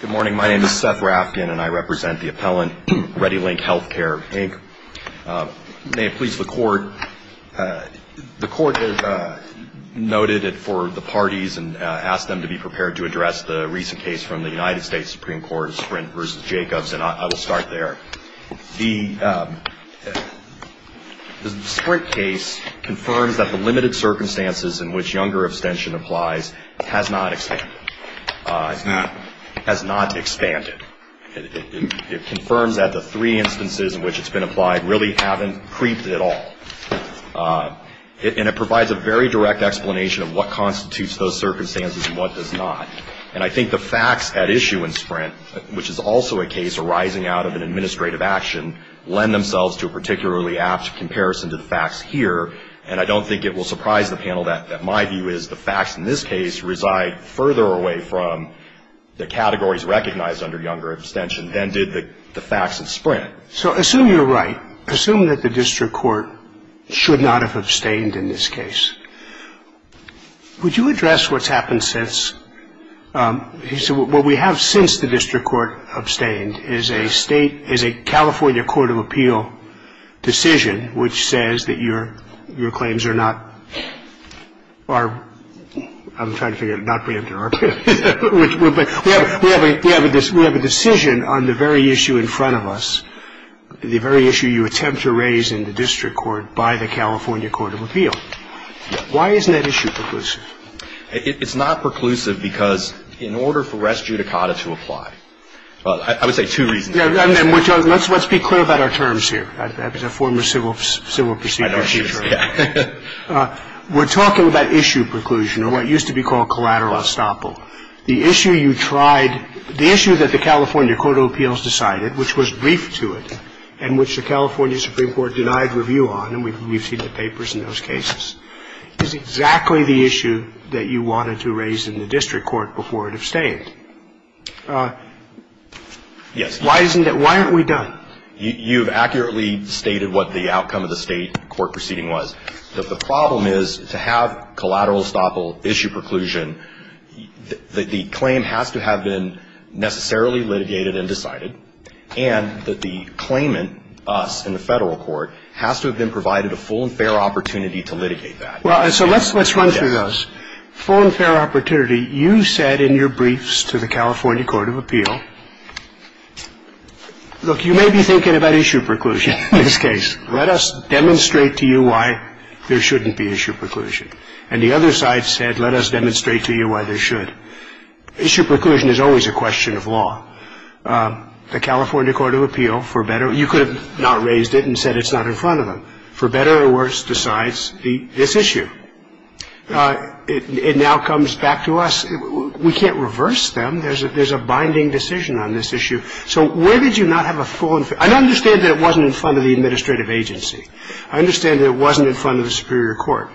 Good morning. My name is Seth Rafkin, and I represent the appellant, ReadyLink Healthcare, Inc. May it please the Court, the Court has noted it for the parties and asked them to be prepared to address the recent case from the United States Supreme Court, Sprint v. Jacobs, and I will start there. The Sprint case confirms that the limited circumstances in which younger abstention applies has not expanded. It confirms that the three instances in which it's been applied really haven't creeped at all. And it provides a very direct explanation of what constitutes those circumstances and what does not. And I think the facts at issue in Sprint, which is also a case arising out of an administrative action, lend themselves to a particularly apt comparison to the facts here, and I don't think it will surprise the Court that my view is the facts in this case reside further away from the categories recognized under younger abstention than did the facts in Sprint. So assume you're right. Assume that the district court should not have abstained in this case. Would you address what's happened since, what we have since the district court abstained is a state, is a California Court of Appeal decision which says that your claims are not preempted or are, I'm trying to figure out, not preempted or are preempted, but we have a decision on the very issue in front of us, the very issue you attempt to raise in the district court by the California Court of Appeal. Why isn't that issue preclusive? It's not preclusive because in order for res judicata to apply, I would say two reasons. Let's be clear about our terms here. That was a former civil prosecutor's case. The issue you tried, the issue that the California Court of Appeals decided, which was briefed to it and which the California Supreme Court denied review on, and we've seen the papers in those cases, is exactly the issue that you wanted to raise in the district court before it abstained. Yes. Why isn't that, why aren't we done? You've accurately stated what the outcome of the state court proceeding was. The problem is to have collateral estoppel issue preclusion, the claim has to have been necessarily litigated and decided, and that the claimant, us in the federal court, has to have been provided a full and fair opportunity to litigate that. Well, so let's run through those. Full and fair opportunity, you said in your briefs to the California Court of Appeal, look, you may be thinking about issue preclusion in this case. Let us demonstrate to you why there shouldn't be issue preclusion. And the other side said, let us demonstrate to you why there should. Issue preclusion is always a question of law. The California Court of Appeal, for better, you could have not raised it and said it's not in front of them. For better or worse decides this issue. It now comes back to us, we can't reverse them. There's a binding decision on this issue. So where did you not have a full and fair? I understand that it wasn't in front of the administrative agency. I understand that it wasn't in front of the superior court.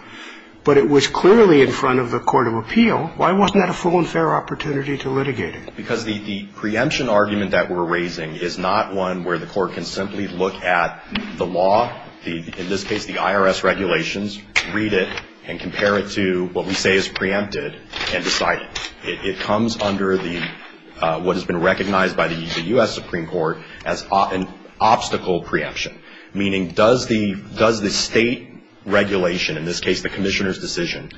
But it was clearly in front of the Court of Appeal. Why wasn't that a full and fair opportunity to litigate it? Because the preemption argument that we're raising is not one where the court can simply look at the law, in this case the IRS regulations, read it, and compare it to what we say is preempted and decided. It comes under what has been recognized by the U.S. Supreme Court as an obstacle preemption, meaning does the State regulation, in this case the Commissioner's decision,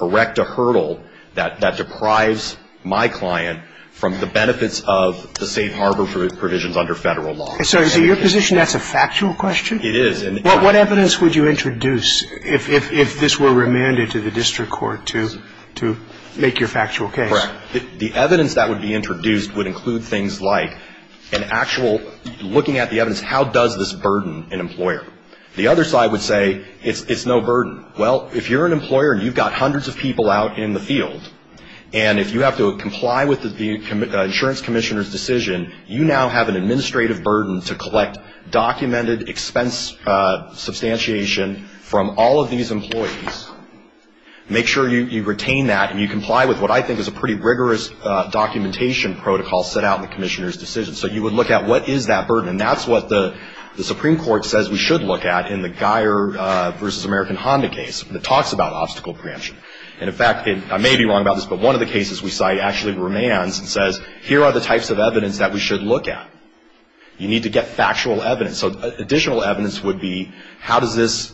erect a hurdle that deprives my client from the benefits of the safe harbor provisions under Federal law? So is it your position that's a factual question? It is. What evidence would you introduce if this were remanded to the district court to make your factual case? Correct. The evidence that would be introduced would include things like an actual looking at the evidence, how does this burden an employer? The other side would say it's no burden. Well, if you're an employer and you've got hundreds of people out in the field, and if you have to comply with the Insurance Commissioner's decision, you now have an administrative burden to collect documented expense substantiation from all of these employees. Make sure you retain that and you comply with what I think is a pretty rigorous documentation protocol set out in the Commissioner's decision. So you would look at what is that burden. And that's what the Supreme Court says we should look at in the Geyer versus American Honda case that talks about obstacle preemption. And, in fact, I may be wrong about this, but one of the cases we cite actually remands and says here are the types of evidence that we should look at. You need to get factual evidence. So additional evidence would be how does this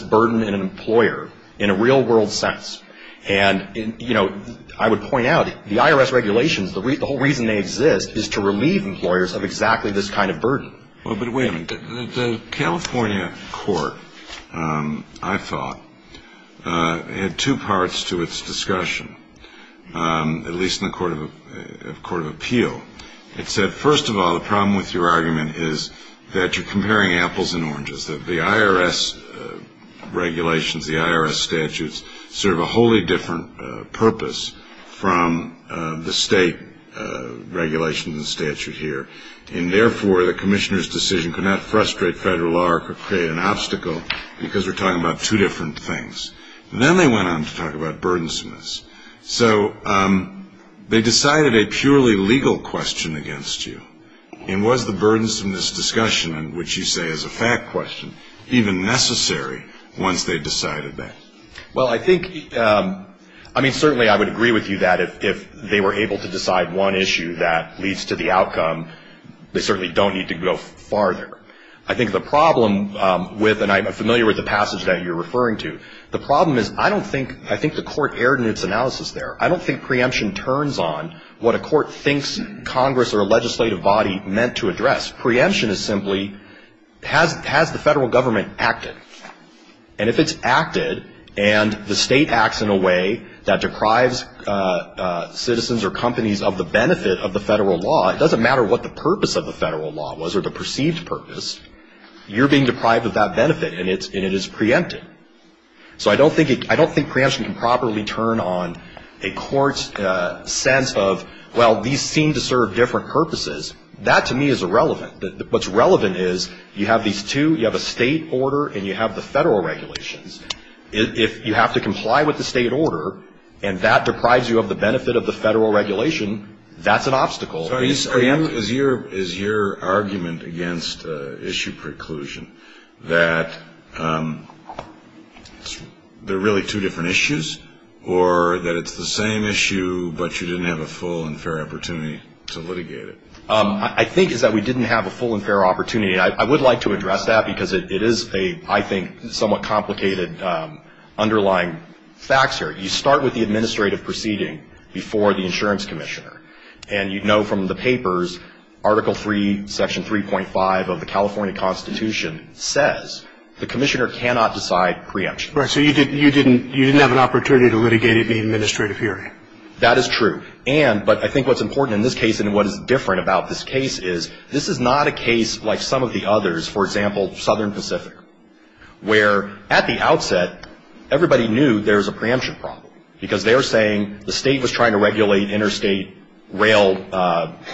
burden an employer in a real-world sense? And, you know, I would point out the IRS regulations, the whole reason they exist is to relieve employers of exactly this kind of burden. Well, but wait a minute. The California court, I thought, had two parts to its discussion, at least in the Court of Appeal. It said, first of all, the problem with your argument is that you're comparing apples and oranges, that the IRS regulations, the IRS statutes, serve a wholly different purpose from the state regulations and statute here. And, therefore, the Commissioner's decision could not frustrate federal law or create an obstacle because we're talking about two different things. Then they went on to talk about burdensomeness. So they decided a purely legal question against you. And was the burdensomeness discussion, which you say is a fact question, even necessary once they decided that? Well, I think, I mean, certainly I would agree with you that if they were able to decide one issue that leads to the outcome, they certainly don't need to go farther. I think the problem with, and I'm familiar with the passage that you're referring to, the problem is I don't think, I think the court erred in its analysis there. I don't think preemption turns on what a court thinks Congress or a legislative body meant to address. Preemption is simply, has the federal government acted? And if it's acted and the state acts in a way that deprives citizens or companies of the benefit of the federal law, it doesn't matter what the purpose of the federal law was or the perceived purpose. You're being deprived of that benefit and it is preempted. So I don't think preemption can properly turn on a court's sense of, well, these seem to serve different purposes. That to me is irrelevant. What's relevant is you have these two, you have a state order and you have the federal regulations. If you have to comply with the state order and that deprives you of the benefit of the federal regulation, that's an obstacle. Is your argument against issue preclusion that there are really two different issues or that it's the same issue but you didn't have a full and fair opportunity to litigate it? I think it's that we didn't have a full and fair opportunity. I would like to address that because it is a, I think, somewhat complicated underlying facts here. You start with the administrative proceeding before the insurance commissioner and you know from the papers, Article 3, Section 3.5 of the California Constitution says the commissioner cannot decide preemption. Right. So you didn't have an opportunity to litigate it in the administrative hearing. That is true. And, but I think what's important in this case and what is different about this case is this is not a case like some of the others, for example, Southern Pacific, where at the outset everybody knew there was a preemption problem because they were saying the State was trying to regulate interstate rail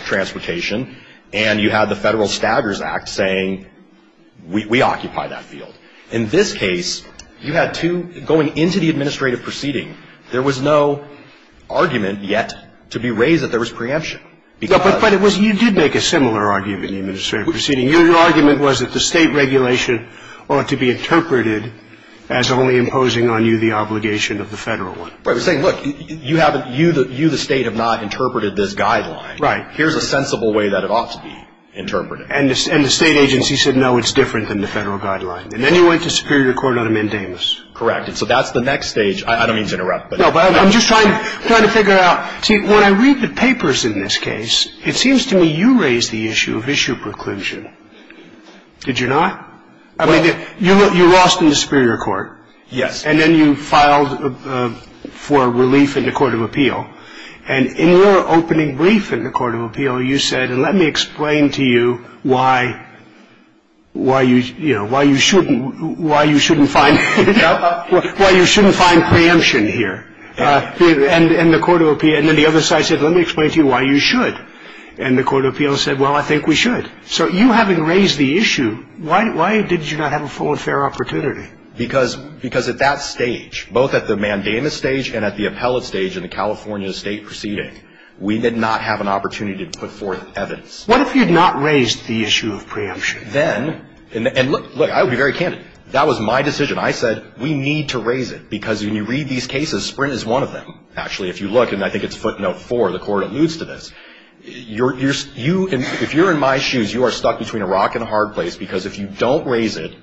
transportation and you had the Federal Staggers Act saying we occupy that field. In this case, you had two, going into the administrative proceeding, there was no argument yet to be raised that there was preemption. But it was, you did make a similar argument in the administrative proceeding. Your argument was that the State regulation ought to be interpreted as only imposing on you the obligation of the Federal one. Right. We're saying, look, you haven't, you the State have not interpreted this guideline. Right. Here's a sensible way that it ought to be interpreted. And the State agency said, no, it's different than the Federal guideline. And then you went to superior court on a mandamus. Correct. And so that's the next stage. I don't mean to interrupt. No, but I'm just trying to figure out, when I read the papers in this case, it seems to me you raised the issue of issue preclusion. Did you not? I mean, you lost in the superior court. Yes. And then you filed for relief in the court of appeal. And in your opening brief in the court of appeal, you said, let me explain to you why you, you know, why you shouldn't, why you shouldn't find, you know, why you shouldn't find preemption here in the court of appeal. And then the other side said, let me explain to you why you should. And the court of appeal said, well, I think we should. So you having raised the issue, why did you not have a full and fair opportunity? Because, because at that stage, both at the mandamus stage and at the appellate stage in the California state proceeding, we did not have an opportunity to put forth evidence. What if you had not raised the issue of preemption? Then, and look, look, I'll be very candid. That was my decision. I said, we need to raise it, because when you read these cases, Sprint is one of them, actually. If you look, and I think it's footnote four, the court alludes to this. You're, you're, you, if you're in my shoes, you are stuck between a rock and a hard place, because if you don't raise it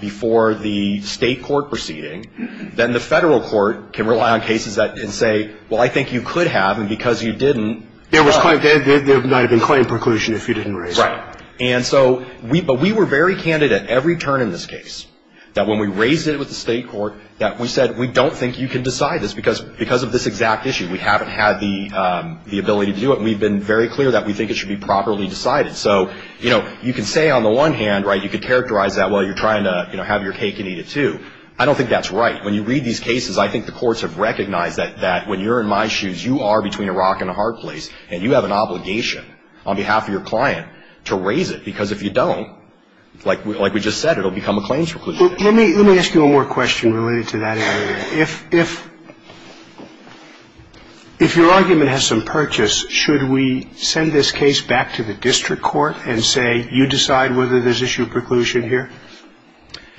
before the state court proceeding, then the federal court can rely on cases that can say, well, I think you could have, and because you didn't. There was quite, there might have been claim preclusion if you didn't raise it. Right. And so we, but we were very candid at every turn in this case, that when we raised it with the state court, that we said, we don't think you can decide this, because, because of this exact issue. We haven't had the, the ability to do it. We've been very clear that we think it should be properly decided. So, you know, you can say on the one hand, right, you could characterize that, well, you're trying to, you know, have your cake and eat it too. I don't think that's right. When you read these cases, I think the courts have recognized that, that when you're in my shoes, you are between a rock and a hard place, and you have an obligation on behalf of your client to raise it, because if you don't, like, like we just said, it'll become a claims preclusion. Let me, let me ask you one more question related to that area. If, if, if your argument has some purchase, should we send this case back to the district court and say, you decide whether there's issue of preclusion here?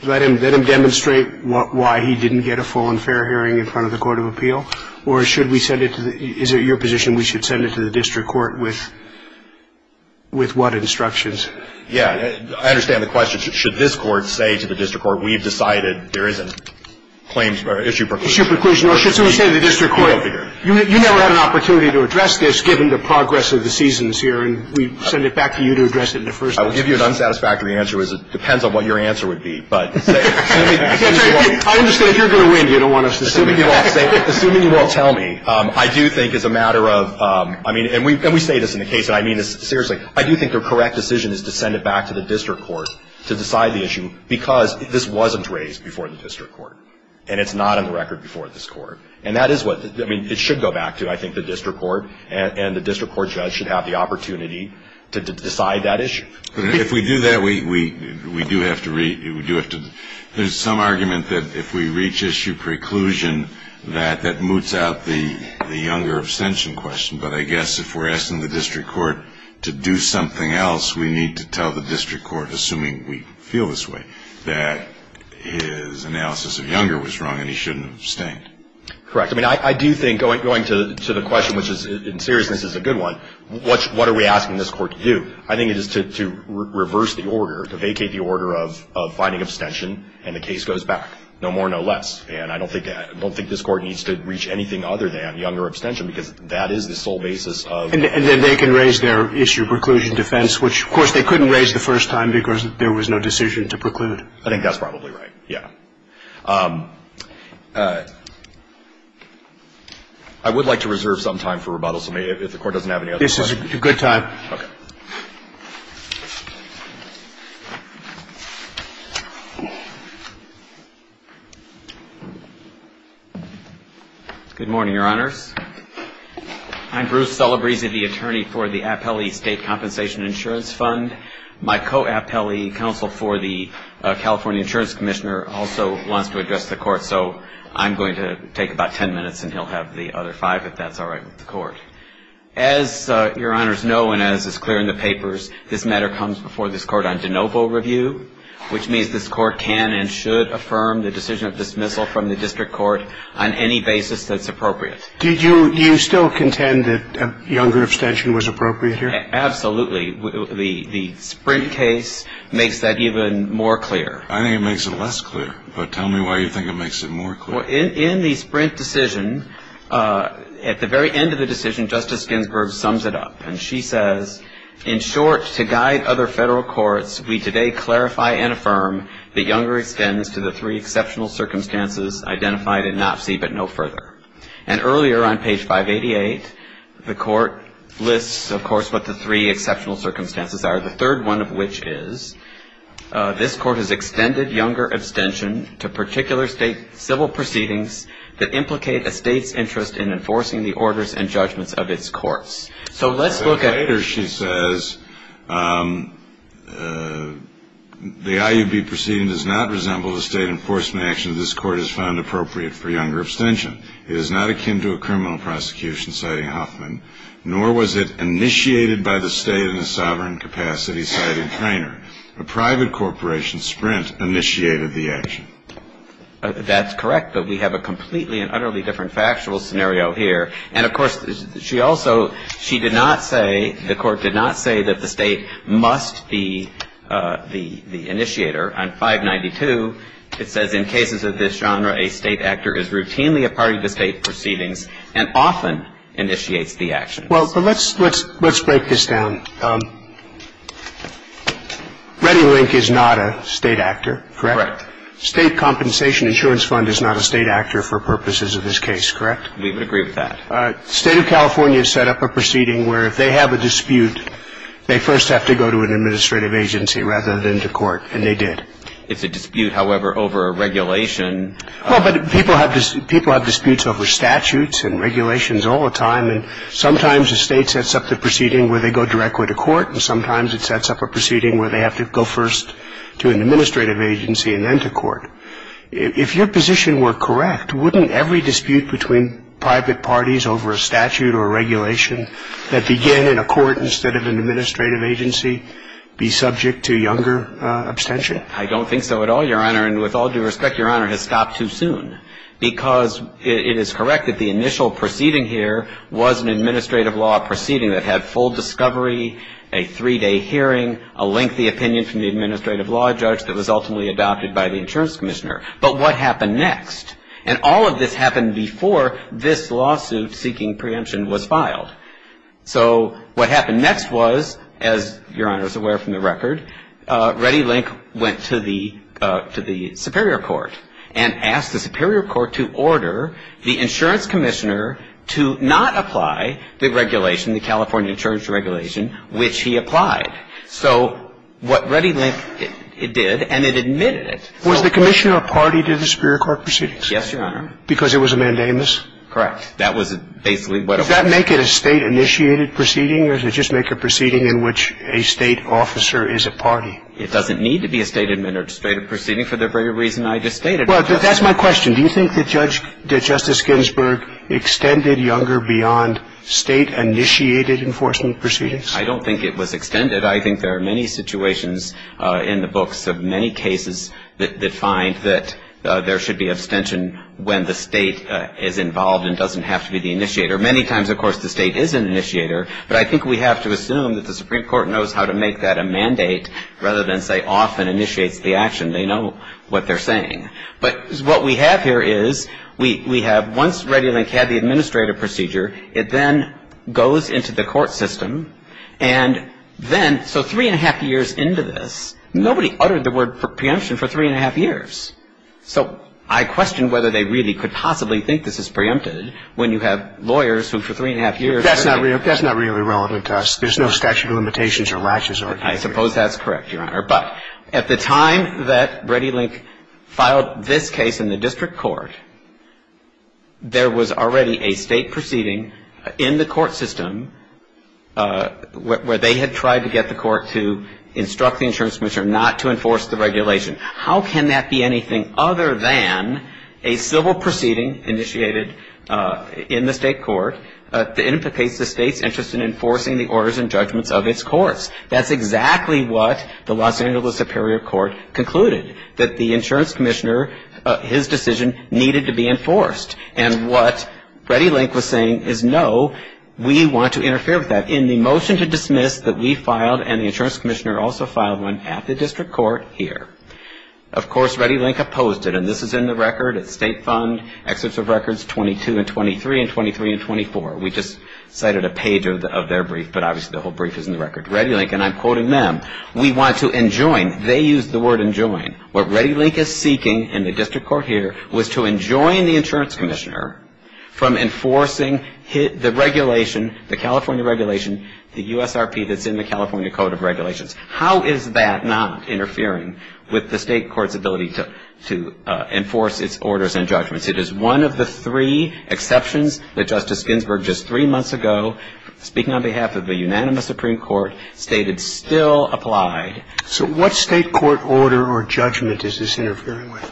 Let him, let him demonstrate what, why he didn't get a full and fair hearing in front of the court of appeal? Or should we send it to the, is it your position we should send it to the district court with, with what instructions? Yeah. I understand the question. Should, should this court say to the district court, we've decided there isn't claims or issue of preclusion. Issue of preclusion. Or should someone say to the district court, you never had an opportunity to address this given the progress of the seasons here, and we send it back to you to address it in the first instance. I will give you an unsatisfactory answer, which is it depends on what your answer would be, but. I understand if you're going to win, you don't want us to send it back. Assuming you all say, assuming you all tell me, I do think it's a matter of, I mean, and we, and we say this in the case, and I mean this seriously, I do think the correct decision is to send it back to the district court to decide the issue, because this wasn't raised before the district court. And it's not on the record before this court. And that is what, I mean, it should go back to, I think, the district court, and, and the district court judge should have the opportunity to decide that issue. If we do that, we, we, we do have to re, we do have to, there's some argument that if we reach issue of preclusion, that, that moots out the, the younger abstention question. But I guess if we're asking the district court to do something else, we need to tell the district court, assuming we feel this way, that his analysis of younger was wrong and he shouldn't have abstained. Correct. I mean, I, I do think going, going to, to the question, which is, in seriousness, is a good one, what's, what are we asking this court to do? I think it is to, to reverse the order, to vacate the order of, of finding abstention and the case goes back, no more, no less. And I don't think that, I don't think this court needs to reach anything other than that is the sole basis of. And, and then they can raise their issue of preclusion defense, which, of course, they couldn't raise the first time because there was no decision to preclude. I think that's probably right. Yeah. I would like to reserve some time for rebuttals. If the court doesn't have any other questions. This is a good time. Okay. Good morning, Your Honors. I'm Bruce Celebrezzi, the attorney for the Appellee State Compensation Insurance Fund. My co-appellee counsel for the California Insurance Commissioner also wants to address the court, so I'm going to take about ten minutes and he'll have the other five, if that's all right with the court. As Your Honors know and as is clear in the papers, this matter comes before this court on de novo review, which means this court can and should affirm the decision of dismissal from the district court on any basis that's appropriate. Did you, do you still contend that younger abstention was appropriate here? Absolutely. The, the Sprint case makes that even more clear. I think it makes it less clear, but tell me why you think it makes it more clear. Well, in the Sprint decision, at the very end of the decision, Justice Ginsburg sums it up, and she says, in short, to guide other federal courts, we today clarify and affirm that younger extends to the three exceptional circumstances identified in NOPC, but no further. And earlier on page 588, the court lists, of course, what the three exceptional circumstances are, the third one of which is, this court has extended younger abstention to particular state civil proceedings that implicate a state's interest in enforcing the orders and judgments of its courts. So let's look at. Later she says, the IUB proceeding does not resemble the state enforcement action this court has found appropriate for younger abstention. It is not akin to a criminal prosecution, citing Hoffman, nor was it initiated by the state in a sovereign capacity, citing Traynor. A private corporation, Sprint, initiated the action. That's correct, but we have a completely and utterly different factual scenario here. And, of course, she also, she did not say, the court did not say that the state must be the, the initiator. On 592, it says, in cases of this genre, a state actor is routinely a party to state proceedings and often initiates the action. Well, but let's, let's, let's break this down. ReadyLink is not a state actor, correct? Correct. State Compensation Insurance Fund is not a state actor for purposes of this case, correct? We would agree with that. All right. State of California set up a proceeding where if they have a dispute, they first have to go to an administrative agency rather than to court, and they did. It's a dispute, however, over a regulation. Well, but people have, people have disputes over statutes and regulations all the time, and sometimes a state sets up the proceeding where they go directly to court, and sometimes it sets up a proceeding where they have to go first to an administrative agency and then to court. If your position were correct, wouldn't every dispute between private parties over a statute or regulation that began in a court instead of an administrative agency be subject to younger abstention? I don't think so at all, Your Honor. And with all due respect, Your Honor, it has stopped too soon because it is correct that the initial proceeding here was an administrative law proceeding that had full discovery, a three-day hearing, a lengthy opinion from the administrative law judge that was ultimately adopted by the insurance commissioner. But what happened next? And all of this happened before this lawsuit seeking preemption was filed. So what happened next was, as Your Honor is aware from the record, Reddy Link went to the superior court and asked the superior court to order the insurance commissioner to not apply the regulation, the California insurance regulation, which he applied. So what Reddy Link did, and it admitted it. Was the commissioner a party to the superior court proceedings? Yes, Your Honor. Because it was a mandamus? Correct. That was basically what it was. Does that make it a State-initiated proceeding, or does it just make a proceeding in which a State officer is a party? It doesn't need to be a State-initiated proceeding for the very reason I just stated. Well, that's my question. Do you think that Justice Ginsburg extended Younger beyond State-initiated enforcement proceedings? I don't think it was extended. I think there are many situations in the books of many cases that find that there should be abstention when the State is involved and doesn't have to be the initiator. Many times, of course, the State is an initiator, but I think we have to assume that the Supreme Court knows how to make that a mandate rather than say off and initiates the action. They know what they're saying. But what we have here is we have once Reddy Link had the administrative procedure, it then goes into the court system, and then so three and a half years into this, nobody uttered the word for preemption for three and a half years. So I question whether they really could possibly think this is preempted when you have lawyers who for three and a half years. That's not really relevant to us. There's no statute of limitations or latches. I suppose that's correct, Your Honor. But at the time that Reddy Link filed this case in the district court, there was already a State proceeding in the court system where they had tried to get the court to instruct the insurance commissioner not to enforce the regulation. How can that be anything other than a civil proceeding initiated in the State court that implicates the State's interest in enforcing the orders and judgments of its courts? That's exactly what the Los Angeles Superior Court concluded, that the insurance commissioner, his decision needed to be enforced. And what Reddy Link was saying is, no, we want to interfere with that. In the motion to dismiss that we filed and the insurance commissioner also filed one at the district court here. Of course, Reddy Link opposed it, and this is in the record. It's State Fund Excerpts of Records 22 and 23 and 23 and 24. We just cited a page of their brief, but obviously the whole brief is in the record. Reddy Link, and I'm quoting them, we want to enjoin, they used the word enjoin. What Reddy Link is seeking in the district court here was to enjoin the insurance commissioner from enforcing the regulation, the California regulation, the USRP that's in the California Code of Regulations. How is that not interfering with the State court's ability to enforce its orders and judgments? It is one of the three exceptions that Justice Ginsburg just three months ago, speaking on behalf of the unanimous Supreme Court, stated still applied. So what State court order or judgment is this interfering with?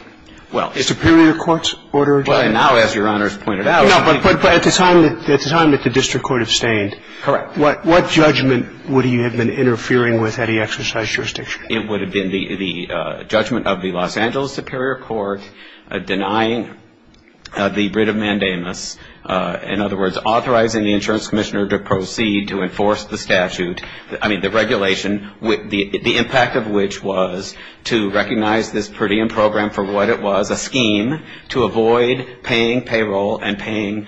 Superior court's order or judgment? Well, now as Your Honor has pointed out. No, but at the time that the district court abstained. Correct. What judgment would he have been interfering with had he exercised jurisdiction? It would have been the judgment of the Los Angeles Superior Court denying the writ of mandamus. In other words, authorizing the insurance commissioner to proceed to enforce the statute. I mean, the regulation, the impact of which was to recognize this per diem program for what it was, a scheme to avoid paying payroll and paying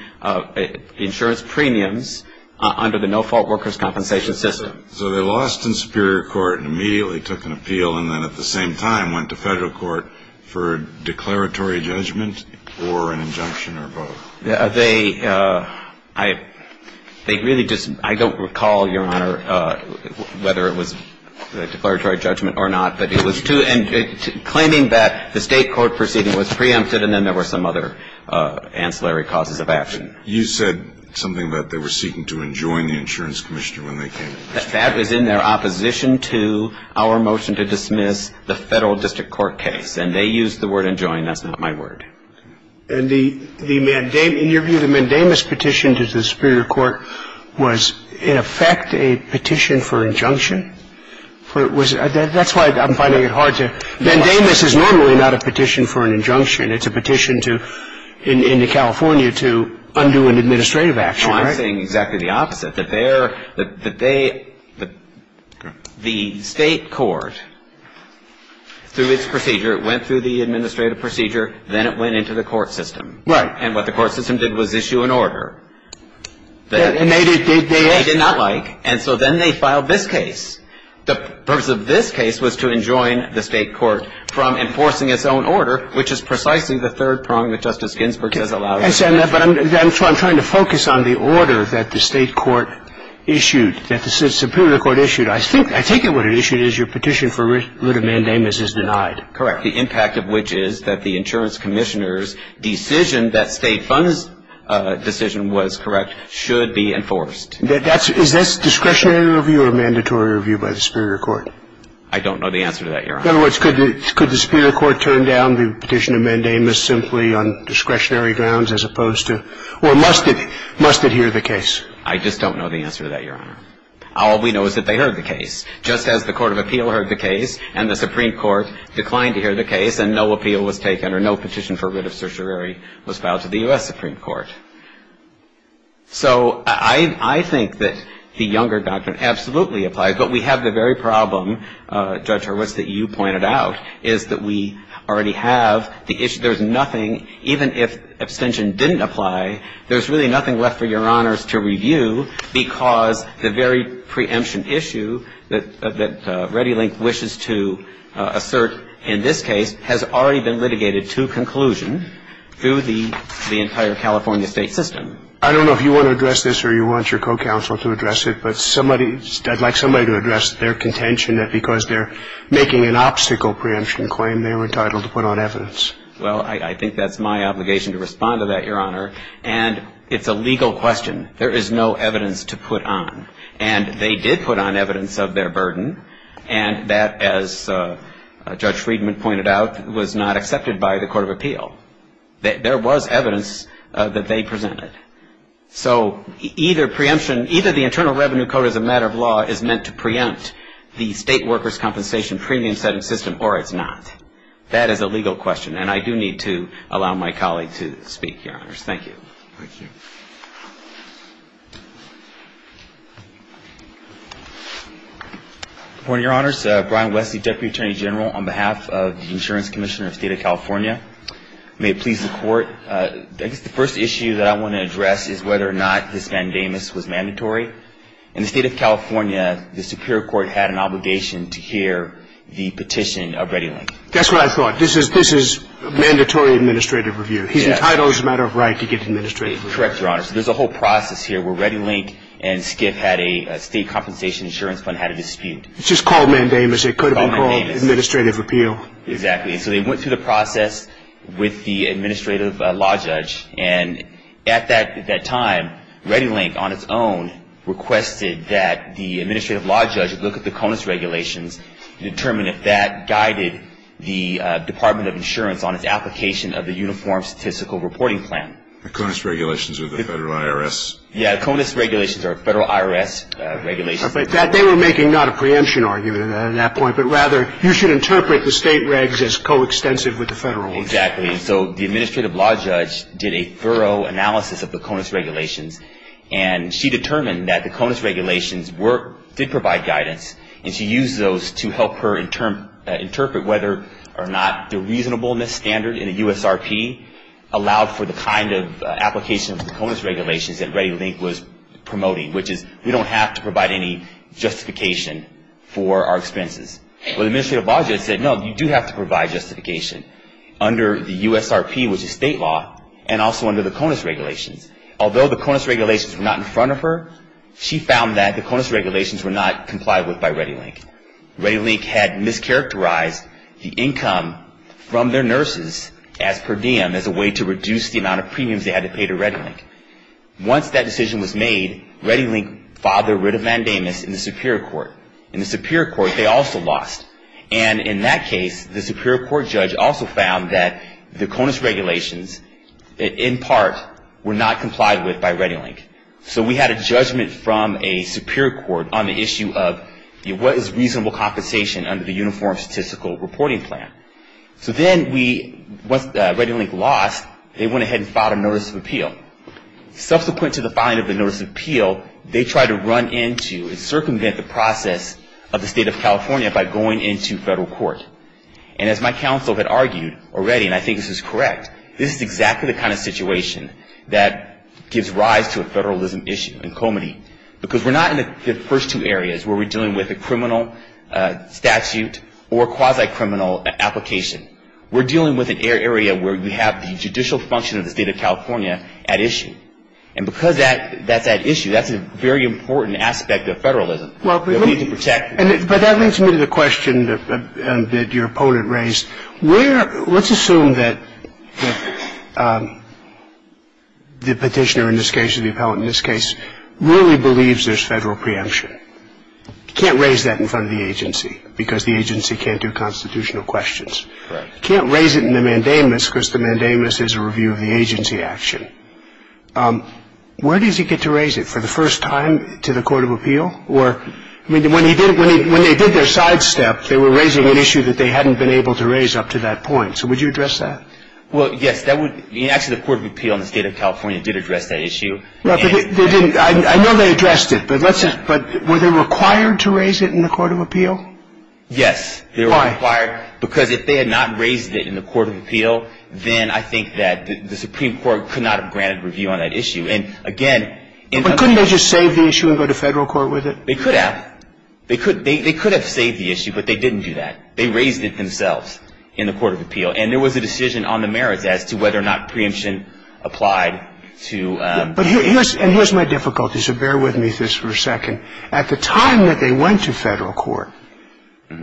insurance premiums under the no-fault workers' compensation system. So they lost in superior court and immediately took an appeal and then at the same time went to federal court for declaratory judgment or an injunction or vote? They really just, I don't recall, Your Honor, whether it was a declaratory judgment or not, but it was claiming that the State court proceeding was preempted and then there were some other ancillary causes of action. You said something about they were seeking to enjoin the insurance commissioner when they came in. That was in their opposition to our motion to dismiss the federal district court case. And they used the word enjoin. That's not my word. And the mandamus, in your view, the mandamus petition to the superior court was, in effect, a petition for injunction? That's why I'm finding it hard to. Mandamus is normally not a petition for an injunction. It's a petition to, in California, to undo an administrative action, right? No, I'm saying exactly the opposite, that they are, that they, the State court, through its procedure, it went through the administrative procedure, then it went into the court system. Right. And what the court system did was issue an order. And they did not like. And so then they filed this case. The purpose of this case was to enjoin the State court from enforcing its own order, which is precisely the third prong that Justice Ginsburg has allowed. But I'm trying to focus on the order that the State court issued, that the superior court issued. I think what it issued is your petition for writ of mandamus is denied. Correct. The impact of which is that the insurance commissioner's decision that State funds decision was correct should be enforced. Is this discretionary review or mandatory review by the superior court? I don't know the answer to that, Your Honor. In other words, could the superior court turn down the petition of mandamus simply on discretionary grounds as opposed to, or must it hear the case? I just don't know the answer to that, Your Honor. All we know is that they heard the case. Just as the Court of Appeal heard the case, and the Supreme Court declined to hear the case, and no appeal was taken or no petition for writ of certiorari was filed to the U.S. Supreme Court. So I think that the Younger Doctrine absolutely applies. But we have the very problem, Judge Horwitz, that you pointed out, is that we already have the issue. There's nothing, even if abstention didn't apply, there's really nothing left for Your Honors to review because the very preemption issue that ReadyLink wishes to assert in this case has already been litigated to conclusion through the entire California State system. I don't know if you want to address this or you want your co-counsel to address it, but I'd like somebody to address their contention that because they're making an obstacle preemption claim, they were entitled to put on evidence. Well, I think that's my obligation to respond to that, Your Honor. And it's a legal question. There is no evidence to put on. And they did put on evidence of their burden, and that, as Judge Friedman pointed out, was not accepted by the Court of Appeal. There was evidence that they presented. So either preemption, either the Internal Revenue Code as a matter of law is meant to preempt the state workers' compensation premium-setting system or it's not. That is a legal question, and I do need to allow my colleague to speak, Your Honors. Thank you. Thank you. Good morning, Your Honors. Brian Wesley, Deputy Attorney General on behalf of the Insurance Commissioner of the State of California. May it please the Court. I guess the first issue that I want to address is whether or not this mandamus was mandatory. In the State of California, the Superior Court had an obligation to hear the petition of ReadyLink. That's what I thought. This is mandatory administrative review. Yes. The title is a matter of right to get administrative review. Correct, Your Honors. There's a whole process here where ReadyLink and SCIF had a state compensation insurance fund had a dispute. It's just called mandamus. It could have been called administrative appeal. Exactly. So they went through the process with the administrative law judge, and at that time, ReadyLink on its own requested that the administrative law judge look at the CONUS regulations and determine if that guided the Department of Insurance on its application of the Uniform Statistical Reporting Plan. The CONUS regulations are the federal IRS. Yes, the CONUS regulations are federal IRS regulations. But they were making not a preemption argument at that point, but rather you should interpret the state regs as coextensive with the federal ones. Exactly. So the administrative law judge did a thorough analysis of the CONUS regulations, and she determined that the CONUS regulations did provide guidance, and she used those to help her interpret whether or not the reasonableness standard in the USRP allowed for the kind of application of the CONUS regulations that ReadyLink was promoting, which is we don't have to provide any justification for our expenses. Well, the administrative law judge said, no, you do have to provide justification under the USRP, which is state law, and also under the CONUS regulations. Although the CONUS regulations were not in front of her, she found that the CONUS regulations were not complied with by ReadyLink. ReadyLink had mischaracterized the income from their nurses as per diem as a way to reduce the amount of premiums they had to pay to ReadyLink. Once that decision was made, ReadyLink filed their writ of mandamus in the Superior Court. In the Superior Court, they also lost. And in that case, the Superior Court judge also found that the CONUS regulations, in part, were not complied with by ReadyLink. So we had a judgment from a Superior Court on the issue of what is reasonable compensation under the Uniform Statistical Reporting Plan. So then, once ReadyLink lost, they went ahead and filed a notice of appeal. Subsequent to the filing of the notice of appeal, they tried to run into and circumvent the process of the state of California by going into federal court. And as my counsel had argued already, and I think this is correct, this is exactly the kind of situation that gives rise to a federalism issue in Comity. Because we're not in the first two areas where we're dealing with a criminal statute or quasi-criminal application. We're dealing with an area where we have the judicial function of the state of California at issue. And because that's at issue, that's a very important aspect of federalism that we need to protect. But that leads me to the question that your opponent raised. Let's assume that the petitioner in this case or the appellant in this case really believes there's federal preemption. You can't raise that in front of the agency because the agency can't do constitutional questions. You can't raise it in the mandamus because the mandamus is a review of the agency action. Where does he get to raise it? For the first time to the court of appeal? Or when they did their sidestep, they were raising an issue that they hadn't been able to raise up to that point. So would you address that? Well, yes. Actually, the court of appeal in the state of California did address that issue. I know they addressed it, but were they required to raise it in the court of appeal? Yes. Why? Because if they had not raised it in the court of appeal, then I think that the Supreme Court could not have granted review on that issue. But couldn't they just save the issue and go to federal court with it? They could have. They could have saved the issue, but they didn't do that. They raised it themselves in the court of appeal. And there was a decision on the merits as to whether or not preemption applied to the case. And here's my difficulty, so bear with me for a second. At the time that they went to federal court,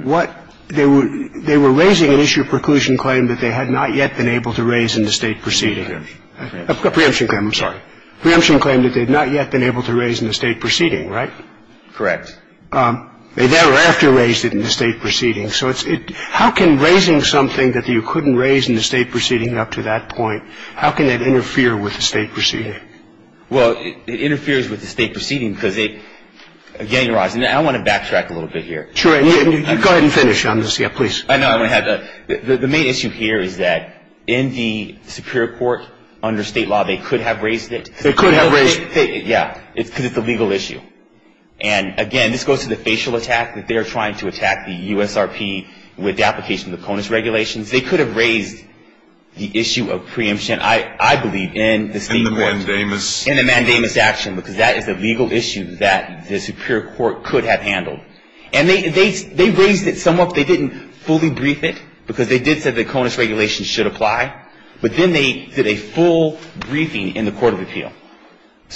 what they were raising an issue of preclusion claim that they had not yet been able to raise in the state proceeding. A preemption claim. I'm sorry. A preemption claim that they had not yet been able to raise in the state proceeding, right? Correct. They thereafter raised it in the state proceeding. So how can raising something that you couldn't raise in the state proceeding up to that point, how can that interfere with the state proceeding? Well, it interferes with the state proceeding because it, again, your Honor, I want to backtrack a little bit here. Sure. Go ahead and finish on this. Yeah, please. The main issue here is that in the superior court under state law, they could have raised it. They could have raised it. Yeah, because it's a legal issue. And, again, this goes to the facial attack that they're trying to attack the USRP with the application of the CONUS regulations. They could have raised the issue of preemption, I believe, in the state court. In the mandamus. In the mandamus action, because that is a legal issue that the superior court could have handled. And they raised it somewhat. They didn't fully brief it because they did say the CONUS regulations should apply. But then they did a full briefing in the court of appeal.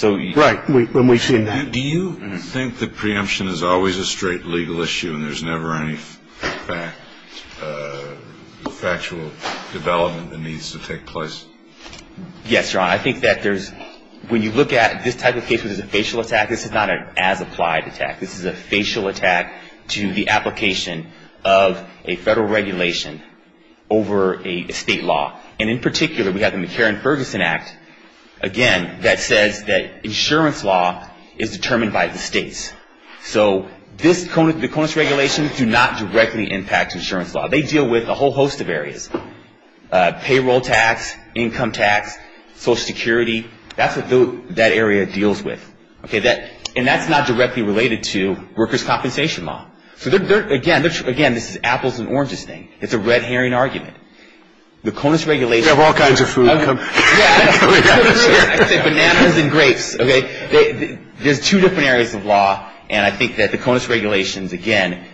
Right. When we say that. Do you think that preemption is always a straight legal issue and there's never any factual development that needs to take place? Yes, Your Honor. I think that there's, when you look at this type of case where there's a facial attack, this is not an as-applied attack. This is a facial attack to the application of a federal regulation over a state law. And, in particular, we have the McCarran-Ferguson Act, again, that says that insurance law is determined by the states. So the CONUS regulations do not directly impact insurance law. They deal with a whole host of areas. Payroll tax, income tax, Social Security. That's what that area deals with. Okay. And that's not directly related to workers' compensation law. So, again, this is apples and oranges thing. It's a red herring argument. The CONUS regulations. You have all kinds of food. Yeah. Bananas and grapes. Okay. There's two different areas of law. And I think that the CONUS regulations, again,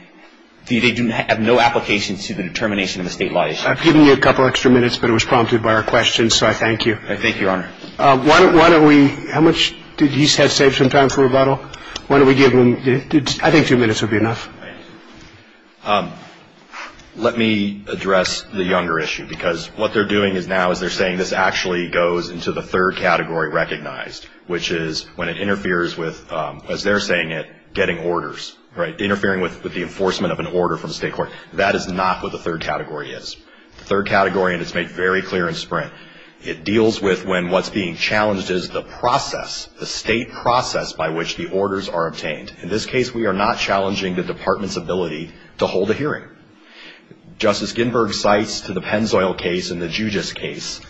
they have no application to the determination of a state law issue. I've given you a couple extra minutes, but it was prompted by our questions, so I thank you. I thank you, Your Honor. Why don't we – how much did he have saved some time for rebuttal? Why don't we give him – I think two minutes would be enough. Let me address the younger issue, because what they're doing now is they're saying this actually goes into the third category recognized, which is when it interferes with, as they're saying it, getting orders, right, interfering with the enforcement of an order from the state court. That is not what the third category is. The third category, and it's made very clear in Sprint, it deals with when what's being challenged is the process, the state process by which the orders are obtained. In this case, we are not challenging the department's ability to hold a hearing. Justice Ginberg cites to the Pennzoil case and the Jugis case,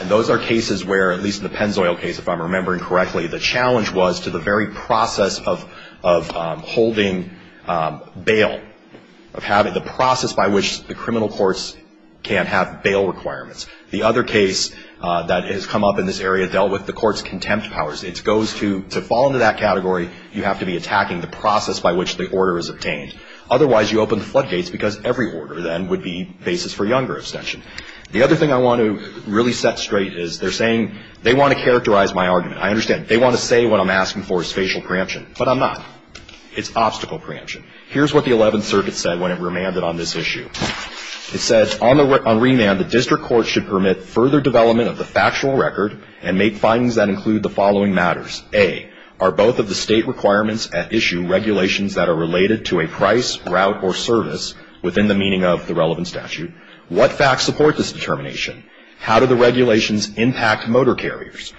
and those are cases where, at least in the Pennzoil case, if I'm remembering correctly, the challenge was to the very process of holding bail, of having the process by which the criminal courts can have bail requirements. The other case that has come up in this area dealt with the court's contempt powers. It goes to – to fall into that category, you have to be attacking the process by which the order is obtained. Otherwise, you open the floodgates, because every order then would be basis for younger abstention. The other thing I want to really set straight is they're saying – they want to characterize my argument. I understand. They want to say what I'm asking for is facial preemption, but I'm not. It's obstacle preemption. Here's what the Eleventh Circuit said when it remanded on this issue. It said, on remand, the district court should permit further development of the factual record and make findings that include the following matters. A, are both of the state requirements at issue regulations that are related to a price, route, or service within the meaning of the relevant statute? What facts support this determination? How do the regulations impact motor carriers?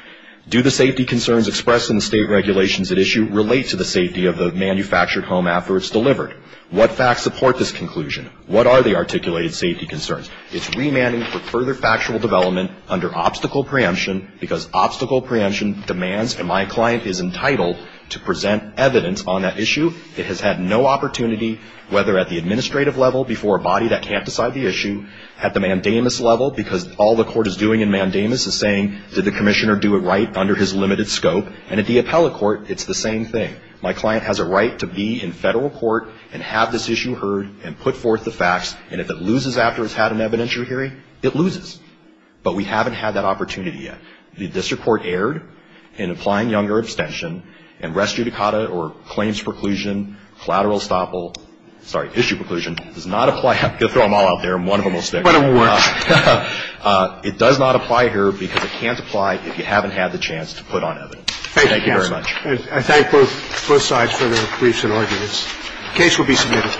Do the safety concerns expressed in the state regulations at issue relate to the safety of the manufactured home after it's delivered? What facts support this conclusion? What are the articulated safety concerns? It's remanding for further factual development under obstacle preemption, because obstacle preemption demands, and my client is entitled to present evidence on that issue. It has had no opportunity, whether at the administrative level before a body that can't decide the issue, at the mandamus level, because all the court is doing in mandamus is saying, did the commissioner do it right under his limited scope? And at the appellate court, it's the same thing. My client has a right to be in federal court and have this issue heard and put forth the facts, and if it loses after it's had an evidentiary hearing, it loses. But we haven't had that opportunity yet. The district court erred in applying younger abstention, and rest judicata or claims preclusion, collateral estoppel, sorry, issue preclusion, does not apply. You'll throw them all out there, and one of them will stick. It does not apply here because it can't apply if you haven't had the chance to put on evidence. Thank you very much. I thank both sides for their briefs and arguments. The case will be submitted.